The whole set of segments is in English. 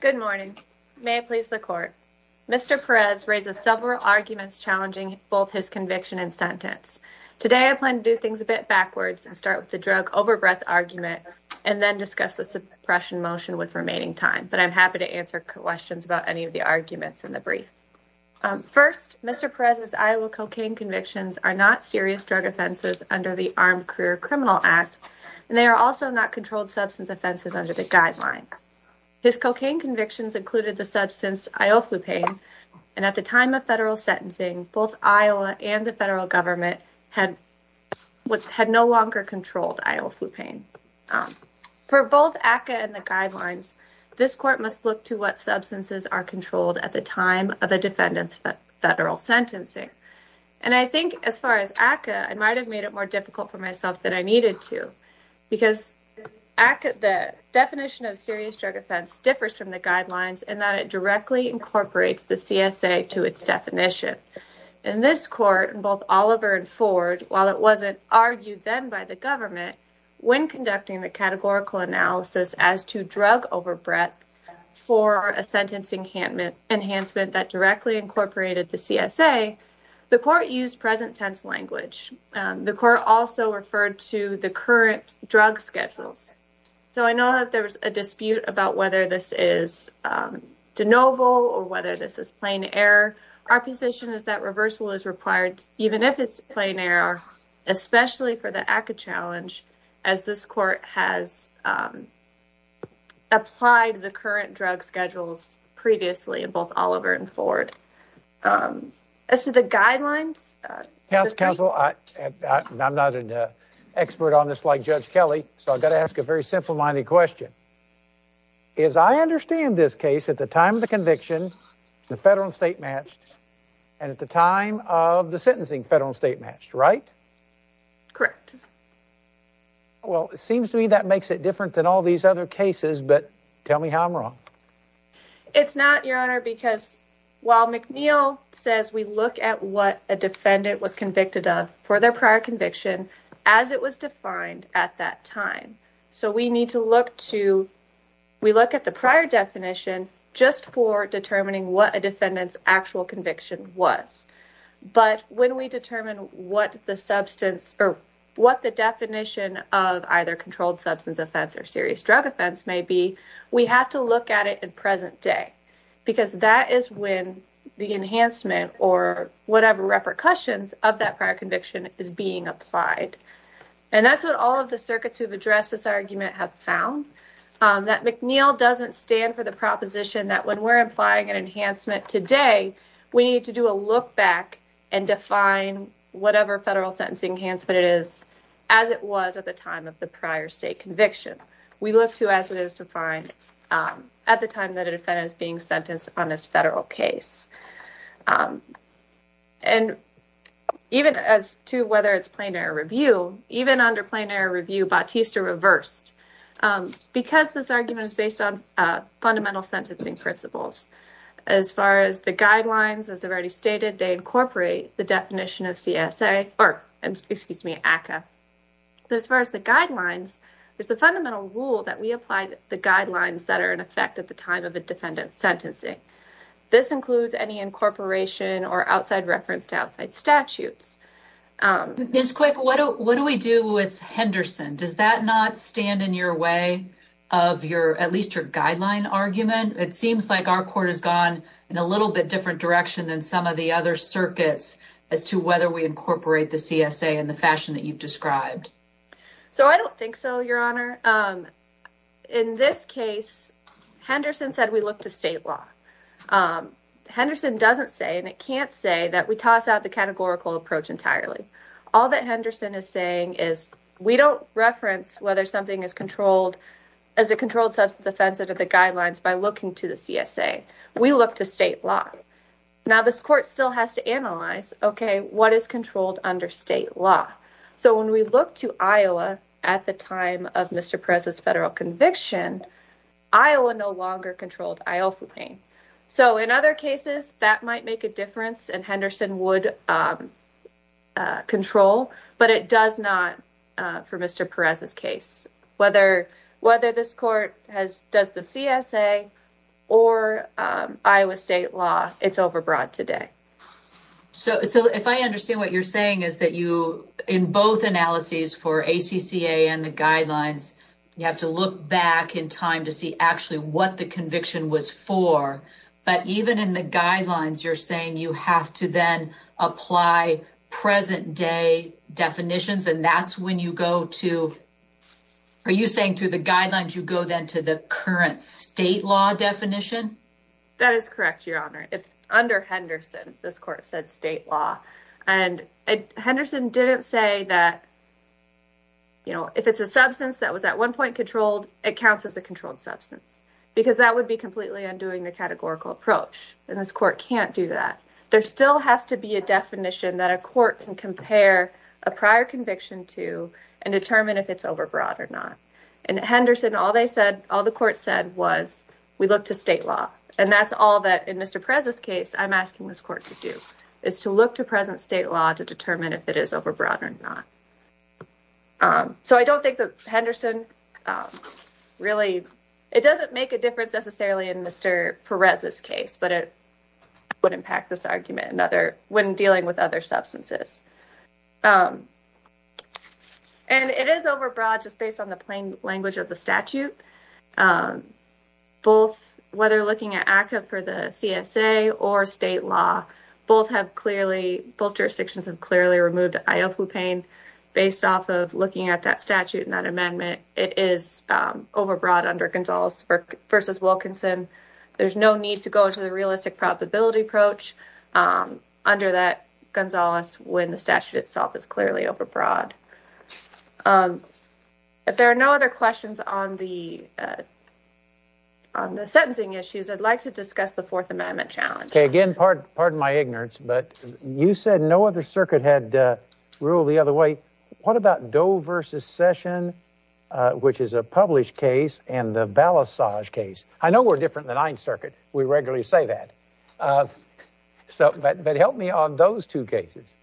Good morning. May it please the court. Mr. Perez raises several arguments challenging both his conviction and sentence. Today I plan to do things a bit backwards and start with the drug overbreath argument and then discuss the suppression motion with remaining time. But I'm happy to answer questions about any of the arguments in the brief. First, Mr. Perez's Iowa cocaine convictions are not serious drug offenses under the Armed Career Criminal Act, and they are also not controlled substance offenses under the guidelines. His cocaine convictions included the substance Ioflupane, and at the time of federal sentencing, both Iowa and the federal government had no longer controlled Ioflupane. For both ACCA and the guidelines, this court must look to what substances are controlled at the time of a defendant's federal sentencing. And I think as far as ACCA, I might have made it more difficult for myself than I needed to, because the definition of a serious drug offense differs from the guidelines in that it directly incorporates the CSA to its definition. In this court, both Oliver and Ford, while it wasn't argued then by the government when conducting the categorical analysis as to drug overbreath for a sentencing enhancement that directly incorporated the CSA, the court used present tense language. The court also referred to the current drug schedules. So I know that there was a dispute about whether this is de novo or whether this is plain error. Our position is that reversal is required, even if it's plain error, especially for the ACCA challenge, as this court has applied the current drug schedules previously in both Oliver and Ford. As to the guidelines... Counsel, I'm not an expert on this like Judge Kelly, so I've got to ask a very simple-minded question. As I understand this case, at the time of the conviction, the federal and state matched, and at the time of the sentencing, federal and state matched, right? Correct. Well, it seems to me that makes it different than all these other cases, but tell me how I'm wrong. It's not, Your Honor, because while McNeil says we look at what a defendant was convicted of for their prior conviction as it was defined at that time, so we look at the prior definition just for determining what a defendant's actual conviction was. But when we determine what the definition of either controlled substance offense or serious drug offense may be, we have to look at it in present day, because that is when the enhancement or whatever repercussions of that prior conviction is being applied. And that's what all of the circuits who have addressed this argument have found, that McNeil doesn't stand for the proposition that when we're implying an enhancement today, we need to do a look back and define whatever federal sentencing enhancement it is as it was at the time of the prior state conviction. We look to as it is defined at the time that a defendant is being sentenced on this federal case. And even as to whether it's plain error review, even under plain error review, Bautista reversed, because this argument is based on fundamental sentencing principles. As far as the guidelines, as I've already stated, they incorporate the definition of CSA or excuse me, ACCA. But as far as the guidelines, there's a fundamental rule that we applied the guidelines that are in effect at the time of a defendant's sentencing. This includes any incorporation or outside reference to outside statutes. Ms. Quick, what do we do with Henderson? Does that not stand in your way of your at least your guideline argument? It seems like our court has gone in a little bit different direction than some of the other circuits as to whether we incorporate the CSA in the fashion that you've described. So I don't think so, Your Honor. In this case, Henderson said we look to state law. Henderson doesn't say and it can't say that we toss out the categorical approach entirely. All that Henderson is saying is we don't reference whether something is controlled as a controlled substance offense under the guidelines by looking to the CSA. We look to state law. Now, this court still has to analyze, OK, what is controlled under state law? So when we look to Iowa at the time of Mr. Perez's federal conviction, Iowa no longer controlled Iofepain. So in other cases, that might make a difference. And Henderson would control. But it does not for Mr. Perez's case, whether whether this court has does the CSA or Iowa state law, it's overbroad today. So if I understand what you're saying is that you in both analyses for ACCA and the guidelines, you have to look back in time to see actually what the conviction was for. But even in the guidelines, you're saying you have to then apply present day definitions. And that's when you go to. Are you saying through the guidelines, you go then to the current state law definition? That is correct, Your Honor. If under Henderson, this court said state law and Henderson didn't say that. You know, if it's a substance that was at one point controlled, it counts as a controlled substance because that would be completely undoing the categorical approach. And this court can't do that. There still has to be a definition that a court can compare a prior conviction to and determine if it's overbroad or not. And Henderson, all they said, all the court said was we look to state law. And that's all that in Mr. Perez's case, I'm asking this court to do is to look to present state law to determine if it is overbroad or not. So I don't think that Henderson really it doesn't make a difference necessarily in Mr. Perez's case, but it would impact this argument. Another when dealing with other substances. And it is overbroad just based on the plain language of the statute. Both whether looking at ACCA for the CSA or state law, both have clearly both jurisdictions have clearly removed Iofu Payne based off of looking at that statute. And that amendment is overbroad under Gonzalez versus Wilkinson. There's no need to go to the realistic probability approach under that Gonzalez when the statute itself is clearly overbroad. If there are no other questions on the. On the sentencing issues, I'd like to discuss the Fourth Amendment challenge again. Pardon my ignorance, but you said no other circuit had ruled the other way. What about Doe versus Session, which is a published case and the Balasage case? I know we're different than Ninth Circuit. We regularly say that. So, but help me on those two cases.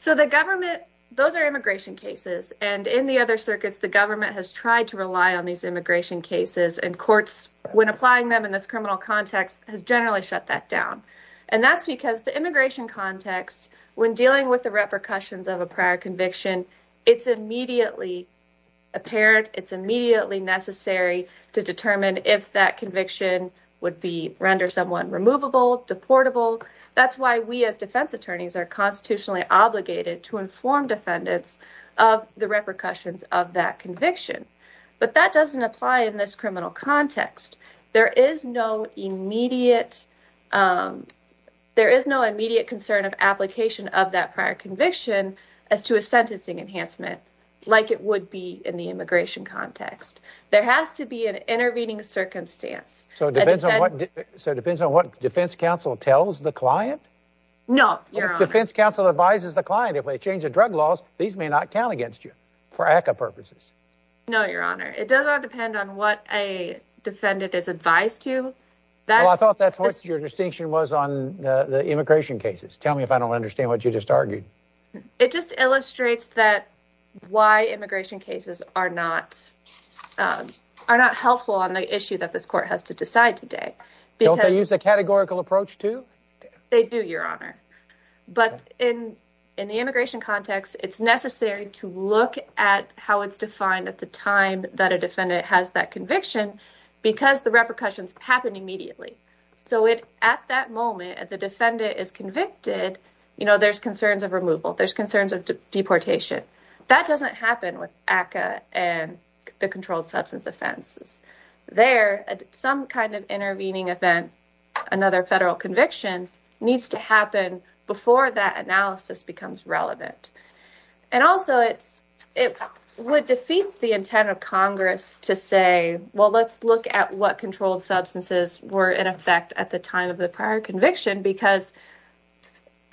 So the government, those are immigration cases. And in the other circuits, the government has tried to rely on these immigration cases and courts when applying them in this criminal context has generally shut that down. And that's because the immigration context when dealing with the repercussions of a prior conviction, it's immediately apparent. It's immediately necessary to determine if that conviction would be render someone removable, deportable. That's why we as defense attorneys are constitutionally obligated to inform defendants of the repercussions of that conviction. But that doesn't apply in this criminal context. There is no immediate. There is no immediate concern of application of that prior conviction as to a sentencing enhancement like it would be in the immigration context. There has to be an intervening circumstance. So it depends on what. So it depends on what defense counsel tells the client. No, your defense counsel advises the client. If they change the drug laws, these may not count against you for ACA purposes. No, your honor. It does not depend on what a defendant is advised to that. I thought that's what your distinction was on the immigration cases. Tell me if I don't understand what you just argued. It just illustrates that why immigration cases are not are not helpful on the issue that this court has to decide today. Don't they use a categorical approach, too? They do, your honor. But in in the immigration context, it's necessary to look at how it's defined at the time that a defendant has that conviction because the repercussions happen immediately. So it at that moment, as a defendant is convicted, you know, there's concerns of removal. There's concerns of deportation. That doesn't happen with ACA and the controlled substance offenses there. Some kind of intervening event. Another federal conviction needs to happen before that analysis becomes relevant. And also, it's it would defeat the intent of Congress to say, well, let's look at what controlled substances were in effect at the time of the prior conviction. Because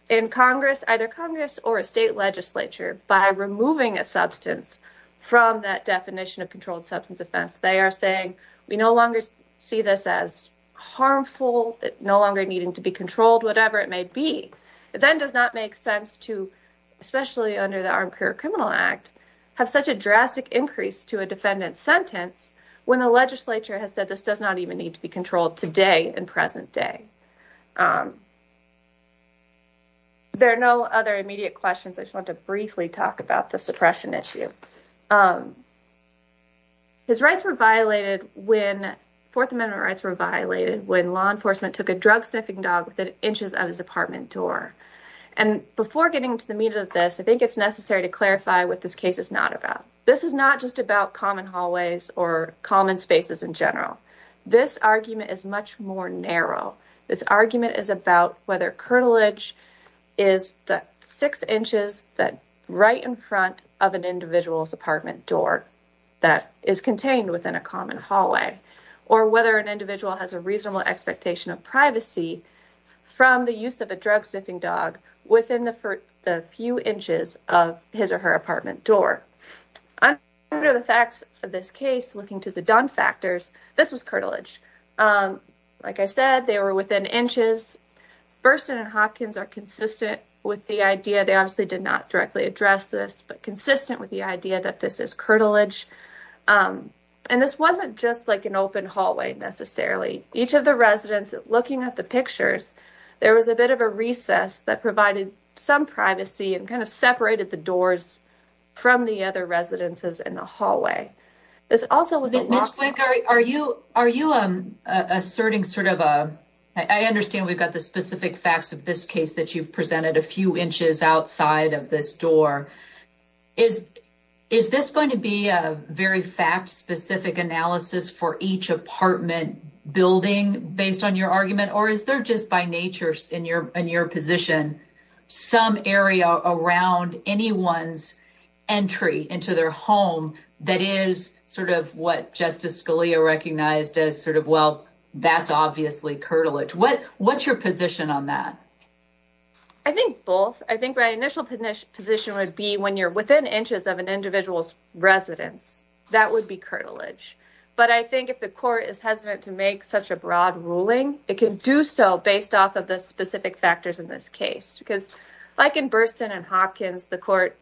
in Congress, either Congress or a state legislature, by removing a substance from that definition of controlled substance offense, they are saying we no longer see this as harmful, no longer needing to be controlled, whatever it may be. It then does not make sense to, especially under the Armed Career Criminal Act, have such a drastic increase to a defendant's sentence when the legislature has said this does not even need to be controlled today in present day. There are no other immediate questions. I just want to briefly talk about the suppression issue. His rights were violated when Fourth Amendment rights were violated when law enforcement took a drug sniffing dog within inches of his apartment door. And before getting to the meat of this, I think it's necessary to clarify what this case is not about. This is not just about common hallways or common spaces in general. This argument is much more narrow. This argument is about whether cartilage is the six inches that right in front of an individual's apartment door that is contained within a common hallway. Or whether an individual has a reasonable expectation of privacy from the use of a drug sniffing dog within the few inches of his or her apartment door. Under the facts of this case, looking to the done factors, this was cartilage. Like I said, they were within inches. Burstyn and Hopkins are consistent with the idea, they obviously did not directly address this, but consistent with the idea that this is cartilage. And this wasn't just like an open hallway necessarily. Each of the residents, looking at the pictures, there was a bit of a recess that provided some privacy and kind of separated the doors from the other residences in the hallway. Ms. Quick, are you asserting sort of a, I understand we've got the specific facts of this case that you've presented a few inches outside of this door. Is this going to be a very fact-specific analysis for each apartment building based on your argument? Or is there just by nature in your position some area around anyone's entry into their home that is sort of what Justice Scalia recognized as sort of, well, that's obviously cartilage. What's your position on that? I think both. I think my initial position would be when you're within inches of an individual's residence, that would be cartilage. But I think if the court is hesitant to make such a broad ruling, it can do so based off of the specific factors in this case. Because like in Burstyn and Hopkins, the court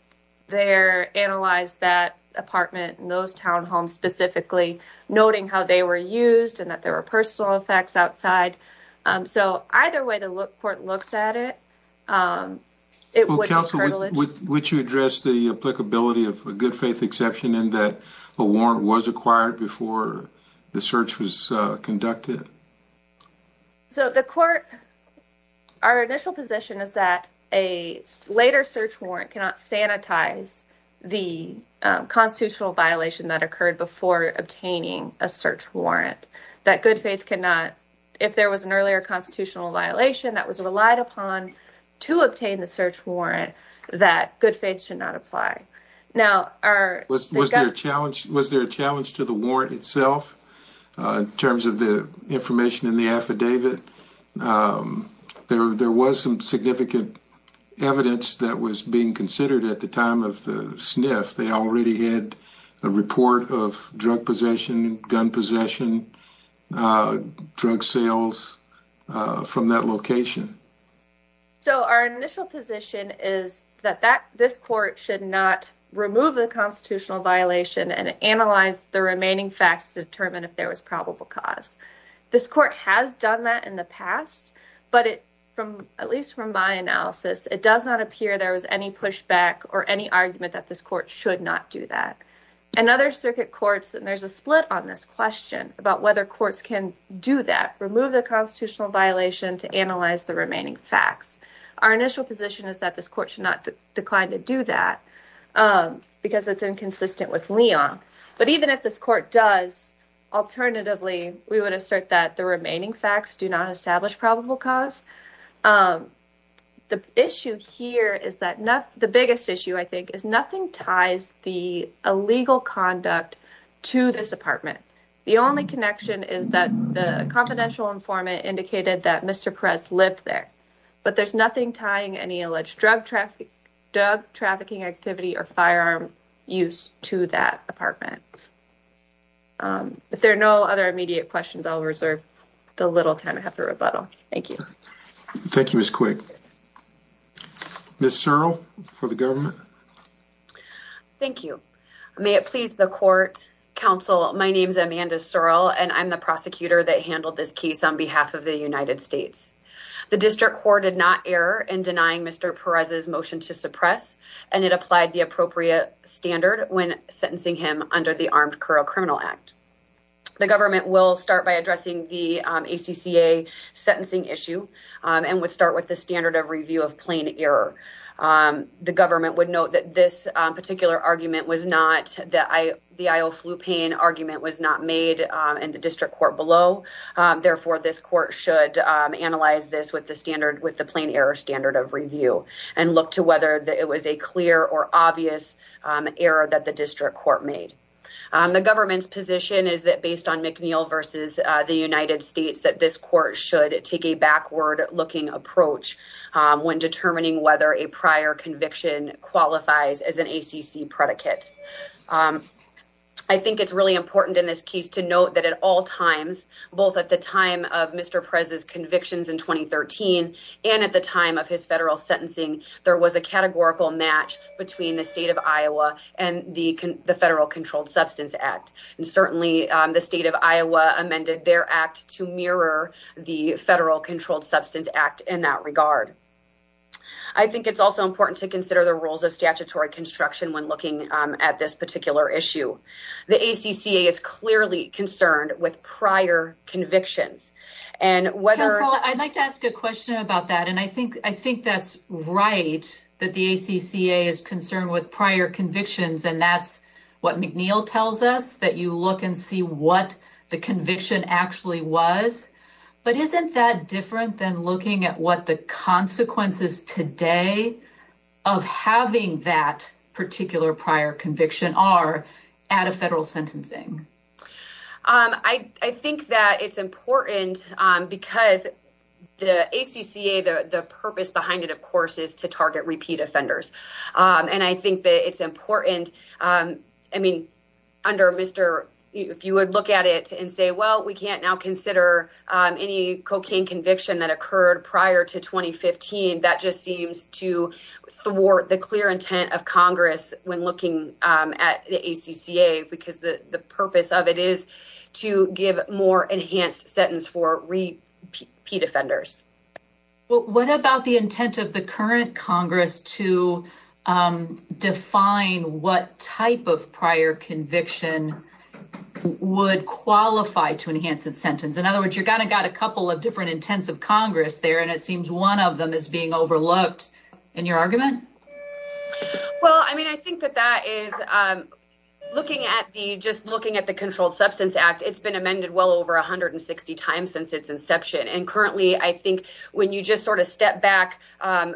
there analyzed that apartment and those townhomes specifically, noting how they were used and that there were personal effects outside. So either way the court looks at it, it would be cartilage. Would you address the applicability of a good faith exception in that a warrant was acquired before the search was conducted? So the court, our initial position is that a later search warrant cannot sanitize the constitutional violation that occurred before obtaining a search warrant. That good faith cannot, if there was an earlier constitutional violation that was relied upon to obtain the search warrant, that good faith should not apply. Was there a challenge to the warrant itself in terms of the information in the affidavit? There was some significant evidence that was being considered at the time of the sniff. They already had a report of drug possession, gun possession, drug sales from that location. So our initial position is that this court should not remove the constitutional violation and analyze the remaining facts to determine if there was probable cause. This court has done that in the past, but at least from my analysis, it does not appear there was any pushback or any argument that this court should not do that. And other circuit courts, and there's a split on this question about whether courts can do that, remove the constitutional violation to analyze the remaining facts. Our initial position is that this court should not decline to do that because it's inconsistent with Leon. But even if this court does, alternatively, we would assert that the remaining facts do not establish probable cause. The issue here is that the biggest issue I think is nothing ties the illegal conduct to this apartment. The only connection is that the confidential informant indicated that Mr. Perez lived there. But there's nothing tying any alleged drug trafficking activity or firearm use to that apartment. If there are no other immediate questions, I'll reserve the little time I have to rebuttal. Thank you. Thank you, Ms. Quigg. Ms. Searle for the government. Thank you. May it please the court, counsel, my name is Amanda Searle and I'm the prosecutor that handled this case on behalf of the United States. The district court did not err in denying Mr. Perez's motion to suppress. And it applied the appropriate standard when sentencing him under the Armed Criminal Act. The government will start by addressing the ACCA sentencing issue and would start with the standard of review of plain error. The government would note that this particular argument was not, the I.O. Flupain argument was not made in the district court below. Therefore, this court should analyze this with the standard with the plain error standard of review and look to whether it was a clear or obvious error that the district court made. The government's position is that based on McNeil versus the United States, that this court should take a backward looking approach when determining whether a prior conviction qualifies as an ACC predicate. I think it's really important in this case to note that at all times, both at the time of Mr. Perez's convictions in 2013 and at the time of his federal sentencing, there was a categorical match between the state of Iowa and the Federal Controlled Substance Act. And certainly the state of Iowa amended their act to mirror the Federal Controlled Substance Act in that regard. I think it's also important to consider the rules of statutory construction when looking at this particular issue. The ACCA is clearly concerned with prior convictions and whether I'd like to ask a question about that. And I think I think that's right that the ACCA is concerned with prior convictions. And that's what McNeil tells us, that you look and see what the conviction actually was. But isn't that different than looking at what the consequences today of having that particular prior conviction are at a federal sentencing? I think that it's important because the ACCA, the purpose behind it, of course, is to target repeat offenders. And I think that it's important. I mean, under Mr. if you would look at it and say, well, we can't now consider any cocaine conviction that occurred prior to 2015. That just seems to thwart the clear intent of Congress when looking at the ACCA, because the purpose of it is to give more enhanced sentence for repeat offenders. What about the intent of the current Congress to define what type of prior conviction would qualify to enhance the sentence? In other words, you're going to got a couple of different intents of Congress there, and it seems one of them is being overlooked in your argument. Well, I mean, I think that that is looking at the just looking at the Controlled Substance Act. It's been amended well over 160 times since its inception. And currently, I think when you just sort of step back from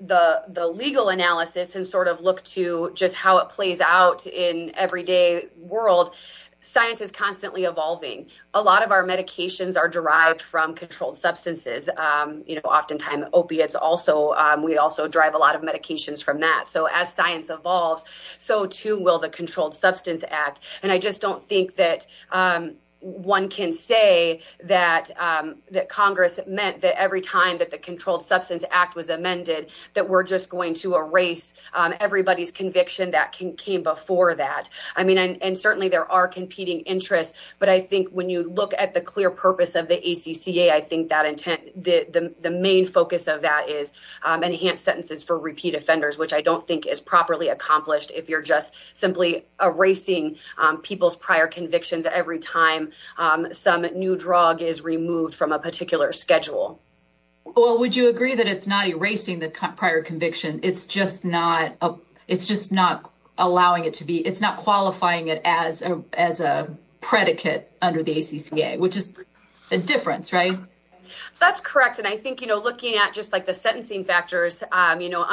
the legal analysis and sort of look to just how it plays out in everyday world, science is constantly evolving. A lot of our medications are derived from controlled substances. You know, oftentimes opiates also. We also drive a lot of medications from that. So as science evolves, so too will the Controlled Substance Act. And I just don't think that one can say that that Congress meant that every time that the Controlled Substance Act was amended, that we're just going to erase everybody's conviction that came before that. I mean, and certainly there are competing interests. But I think when you look at the clear purpose of the ACCA, I think that intent, the main focus of that is enhanced sentences for repeat offenders, which I don't think is properly accomplished. If you're just simply erasing people's prior convictions every time some new drug is removed from a particular schedule. Well, would you agree that it's not erasing the prior conviction? It's just not allowing it to be. It's not qualifying it as a predicate under the ACCA, which is a difference, right? That's correct. And I think, you know, looking at just like the sentencing factors, you know,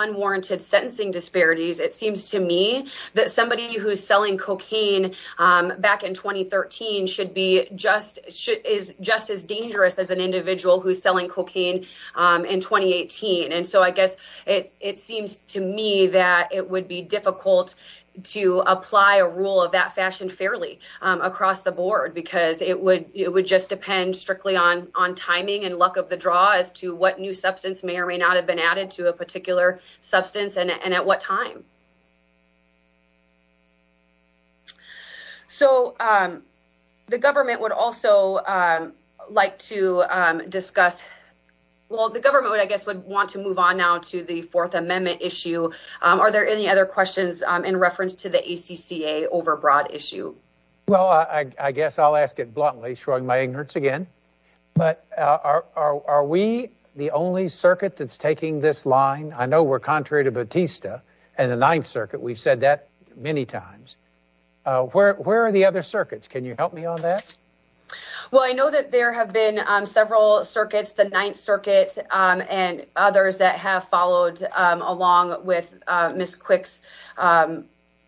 unwarranted sentencing disparities, it seems to me that somebody who's selling cocaine back in 2013 should be just as dangerous as an individual who's selling cocaine in 2018. And so I guess it seems to me that it would be difficult to apply a rule of that fashion fairly across the board because it would just depend strictly on timing and luck of the draw as to what new substance may or may not have been added to a particular substance and at what time. So the government would also like to discuss, well, the government, I guess, would want to move on now to the Fourth Amendment issue. Are there any other questions in reference to the ACCA overbroad issue? Well, I guess I'll ask it bluntly showing my ignorance again. But are we the only circuit that's taking this line? I know we're contrary to Batista and the Ninth Circuit. We've said that many times. Where are the other circuits? Can you help me on that? Well, I know that there have been several circuits, the Ninth Circuit and others that have followed along with Ms. Quick's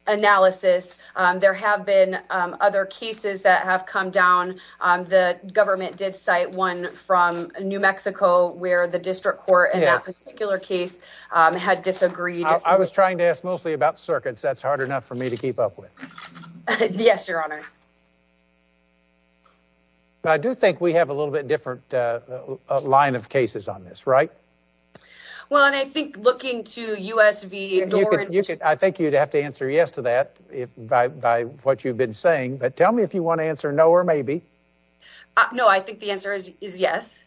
analysis. There have been other cases that have come down. The government did cite one from New Mexico where the district court in that particular case had disagreed. I was trying to ask mostly about circuits. That's hard enough for me to keep up with. Yes, Your Honor. I do think we have a little bit different line of cases on this, right? Well, and I think looking to U.S.V. I think you'd have to answer yes to that by what you've been saying. But tell me if you want to answer no or maybe. No, I think the answer is yes.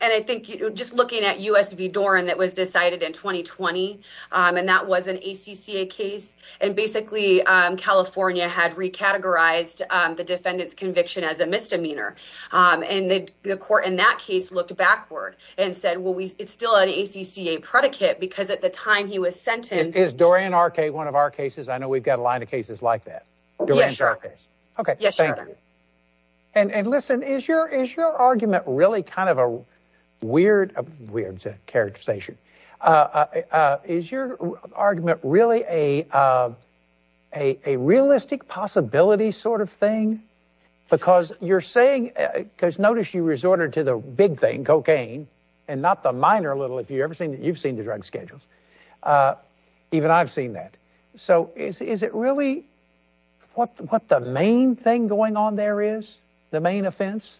And I think just looking at U.S.V. Doran that was decided in 2020 and that was an ACCA case. And basically, California had recategorized the defendant's conviction as a misdemeanor. And the court in that case looked backward and said, well, it's still an ACCA predicate because at the time he was sentenced. Is Doran R.K. one of our cases? I know we've got a line of cases like that. Yes, Your Honor. OK. Yes, Your Honor. And listen, is your argument really kind of a weird characterization? Is your argument really a realistic possibility sort of thing? Because you're saying because notice you resorted to the big thing, cocaine and not the minor little. If you ever seen it, you've seen the drug schedules. Even I've seen that. So is it really what what the main thing going on there is the main offense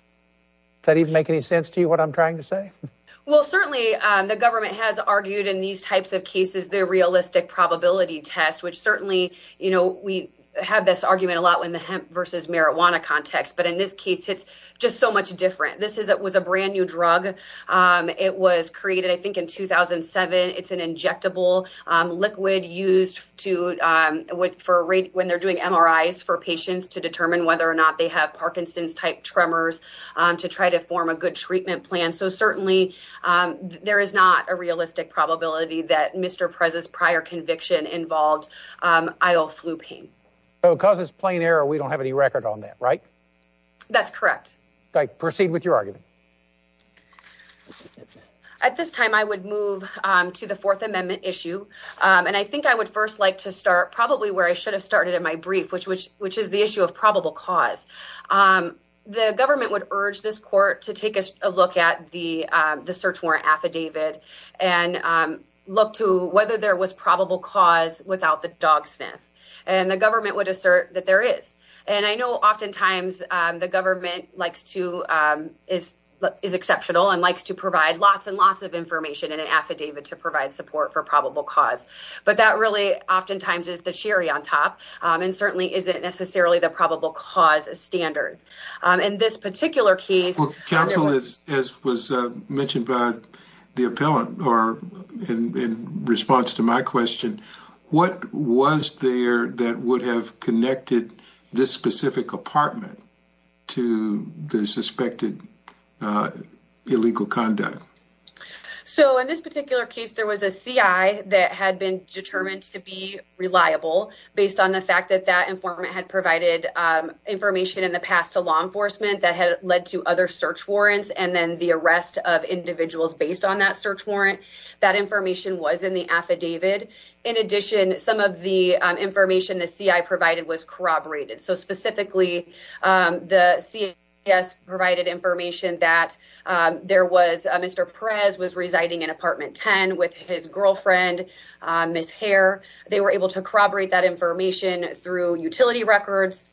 that even make any sense to you? What I'm trying to say? Well, certainly the government has argued in these types of cases, the realistic probability test, which certainly, you know, we have this argument a lot when the hemp versus marijuana context. But in this case, it's just so much different. This is it was a brand new drug. It was created, I think, in 2007. It's an injectable liquid used to wait for a rate when they're doing MRIs for patients to determine whether or not they have Parkinson's type tremors to try to form a good treatment plan. So certainly there is not a realistic probability that Mr. Prez's prior conviction involved. I'll flu pain because it's plain error. We don't have any record on that, right? That's correct. Proceed with your argument. At this time, I would move to the Fourth Amendment issue, and I think I would first like to start probably where I should have started in my brief, which which which is the issue of probable cause. The government would urge this court to take a look at the search warrant affidavit and look to whether there was probable cause without the dog sniff. And the government would assert that there is. And I know oftentimes the government likes to is is exceptional and likes to provide lots and lots of information in an affidavit to provide support for probable cause. But that really oftentimes is the cherry on top and certainly isn't necessarily the probable cause standard. In this particular case, as was mentioned by the appellant or in response to my question, what was there that would have connected this specific apartment to the suspected illegal conduct? So in this particular case, there was a CIA that had been determined to be reliable based on the fact that that informant had provided information in the past to law enforcement that had led to other search warrants and then the arrest of individuals based on that search warrant. That information was in the affidavit. In addition, some of the information the CIA provided was corroborated. So specifically, the CIA provided information that there was a Mr. Perez was residing in apartment 10 with his girlfriend, Miss Hare. They were able to corroborate that information through utility records.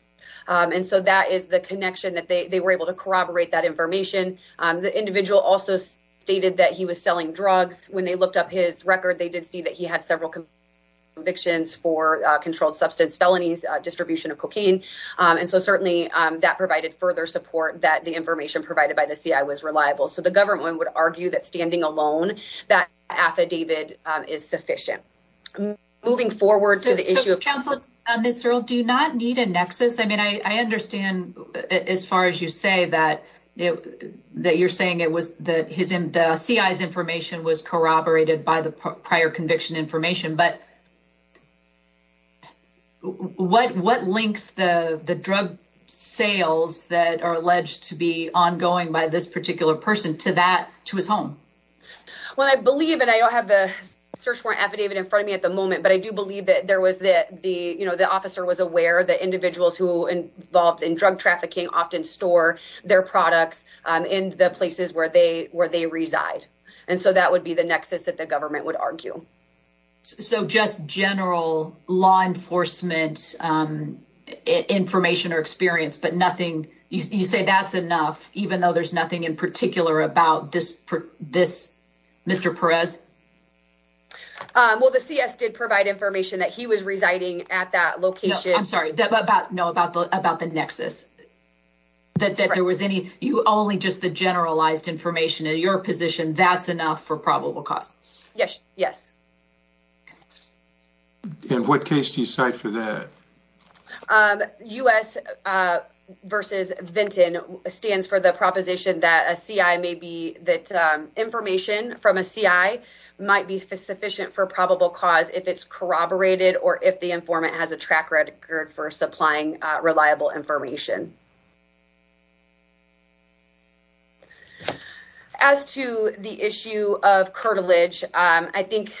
And so that is the connection that they were able to corroborate that information. The individual also stated that he was selling drugs. When they looked up his record, they did see that he had several convictions for controlled substance felonies, distribution of cocaine. And so certainly that provided further support that the information provided by the CIA was reliable. So the government would argue that standing alone that affidavit is sufficient. Moving forward to the issue of counsel, Mr. Do not need a nexus. I mean, I understand as far as you say that that you're saying it was that his CIA's information was corroborated by the prior conviction information. But what what links the drug sales that are alleged to be ongoing by this particular person to that to his home? Well, I believe and I don't have the search warrant affidavit in front of me at the moment, but I do believe that there was that the you know, the officer was aware that individuals who involved in drug trafficking often store their products in the places where they where they reside. And so that would be the nexus that the government would argue. So just general law enforcement information or experience, but nothing. You say that's enough, even though there's nothing in particular about this. This Mr. Perez. Well, the CS did provide information that he was residing at that location. I'm sorry about know about about the nexus. That there was any you only just the generalized information in your position. That's enough for probable cause. Yes. Yes. In what case do you cite for that? U.S. versus Vinton stands for the proposition that a CI may be that information from a CI might be sufficient for probable cause. If it's corroborated or if the informant has a track record for supplying reliable information. As to the issue of cartilage, I think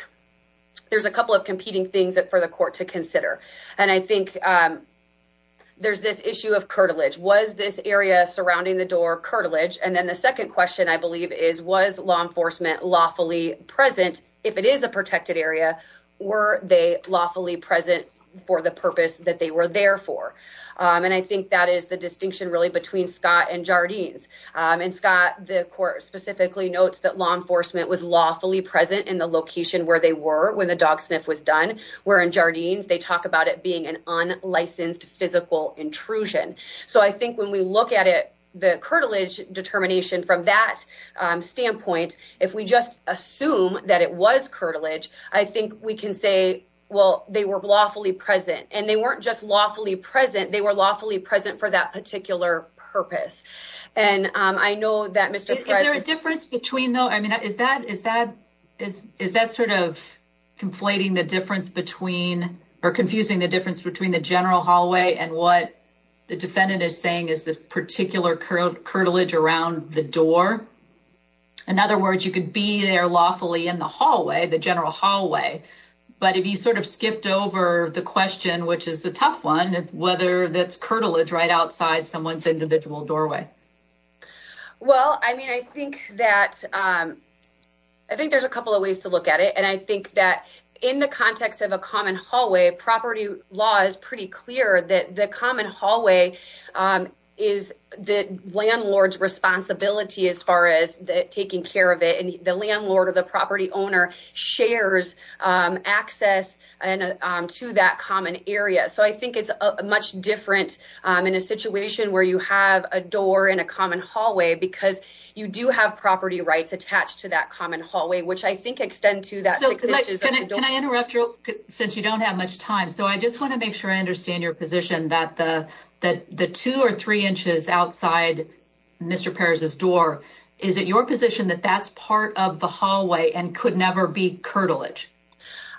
there's a couple of competing things that for the court to consider. And I think there's this issue of cartilage. Was this area surrounding the door cartilage? And then the second question, I believe, is, was law enforcement lawfully present? If it is a protected area, were they lawfully present for the purpose that they were there for? And I think that is the distinction really between Scott and Jardines. And Scott, the court specifically notes that law enforcement was lawfully present in the location where they were when the dog sniff was done. We're in Jardines. They talk about it being an unlicensed physical intrusion. So I think when we look at it, the cartilage determination from that standpoint, if we just assume that it was cartilage, I think we can say, well, they were lawfully present. And they weren't just lawfully present. They were lawfully present for that particular purpose. And I know that Mr. President difference between, though, I mean, is that is that is is that sort of conflating the difference between or confusing the difference between the general hallway and what the defendant is saying is the particular current cartilage around the door. In other words, you could be there lawfully in the hallway, the general hallway. But if you sort of skipped over the question, which is the tough one, whether that's cartilage right outside someone's individual doorway. Well, I mean, I think that I think there's a couple of ways to look at it. And I think that in the context of a common hallway, property law is pretty clear that the common hallway is the landlord's responsibility as far as taking care of it. And the landlord or the property owner shares access to that common area. So I think it's much different in a situation where you have a door in a common hallway because you do have property rights attached to that common hallway, which I think extend to that. Can I interrupt you since you don't have much time? So I just want to make sure I understand your position that the that the two or three inches outside Mr. Paris's door. Is it your position that that's part of the hallway and could never be cartilage?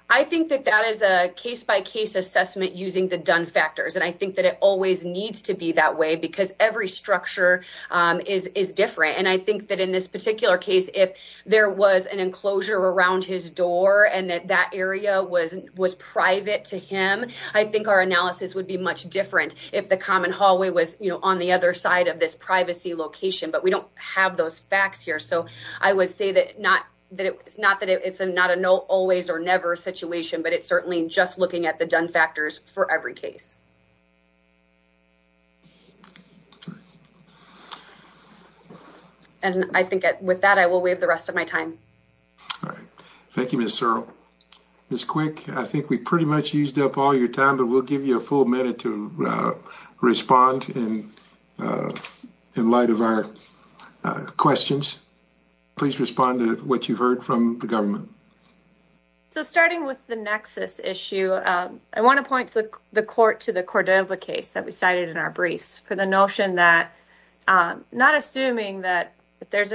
I think that that is a case by case assessment using the done factors. And I think that it always needs to be that way because every structure is different. And I think that in this particular case, if there was an enclosure around his door and that that area was was private to him, I think our analysis would be much different if the common hallway was on the other side of this privacy location. But we don't have those facts here. So I would say that not that it's not that it's not a no always or never situation, but it's certainly just looking at the done factors for every case. And I think with that, I will waive the rest of my time. All right. Thank you, Mr. Quick. I think we pretty much used up all your time, but we'll give you a full minute to respond. And in light of our questions, please respond to what you've heard from the government. So starting with the nexus issue, I want to point to the court, to the court of the case that we cited in our briefs for the notion that not assuming that there's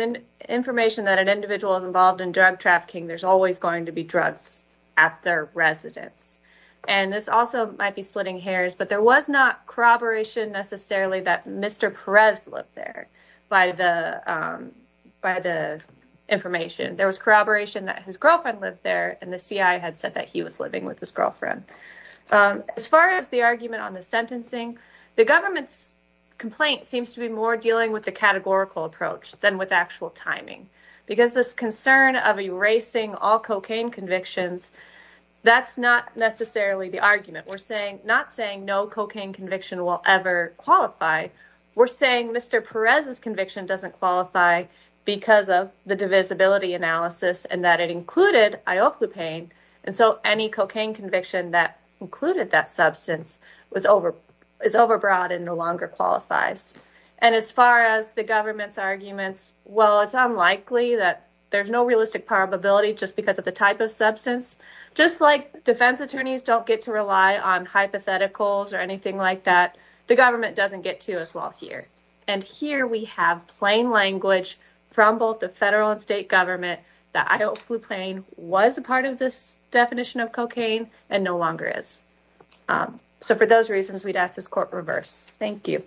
information that an individual is involved in drug trafficking, there's always going to be drugs at their residence. And this also might be splitting hairs, but there was not corroboration necessarily that Mr. Perez lived there by the by the information. There was corroboration that his girlfriend lived there and the CIA had said that he was living with his girlfriend. As far as the argument on the sentencing, the government's complaint seems to be more dealing with the categorical approach than with actual timing, because this concern of erasing all cocaine convictions. That's not necessarily the argument we're saying, not saying no cocaine conviction will ever qualify. We're saying Mr. Perez's conviction doesn't qualify because of the divisibility analysis and that it included ioclopane. And so any cocaine conviction that included that substance was over is overbroad and no longer qualifies. And as far as the government's arguments, well, it's unlikely that there's no realistic probability just because of the type of substance, just like defense attorneys don't get to rely on hypotheticals or anything like that. The government doesn't get to as well here. And here we have plain language from both the federal and state government that ioclopane was a part of this definition of cocaine and no longer is. So for those reasons, we'd ask this court reverse. Thank you.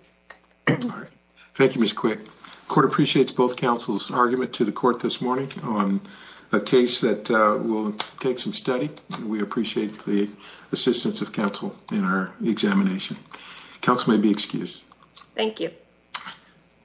Thank you, Ms. Quick. Court appreciates both counsel's argument to the court this morning on a case that will take some study. We appreciate the assistance of counsel in our examination. Counsel may be excused. Thank you.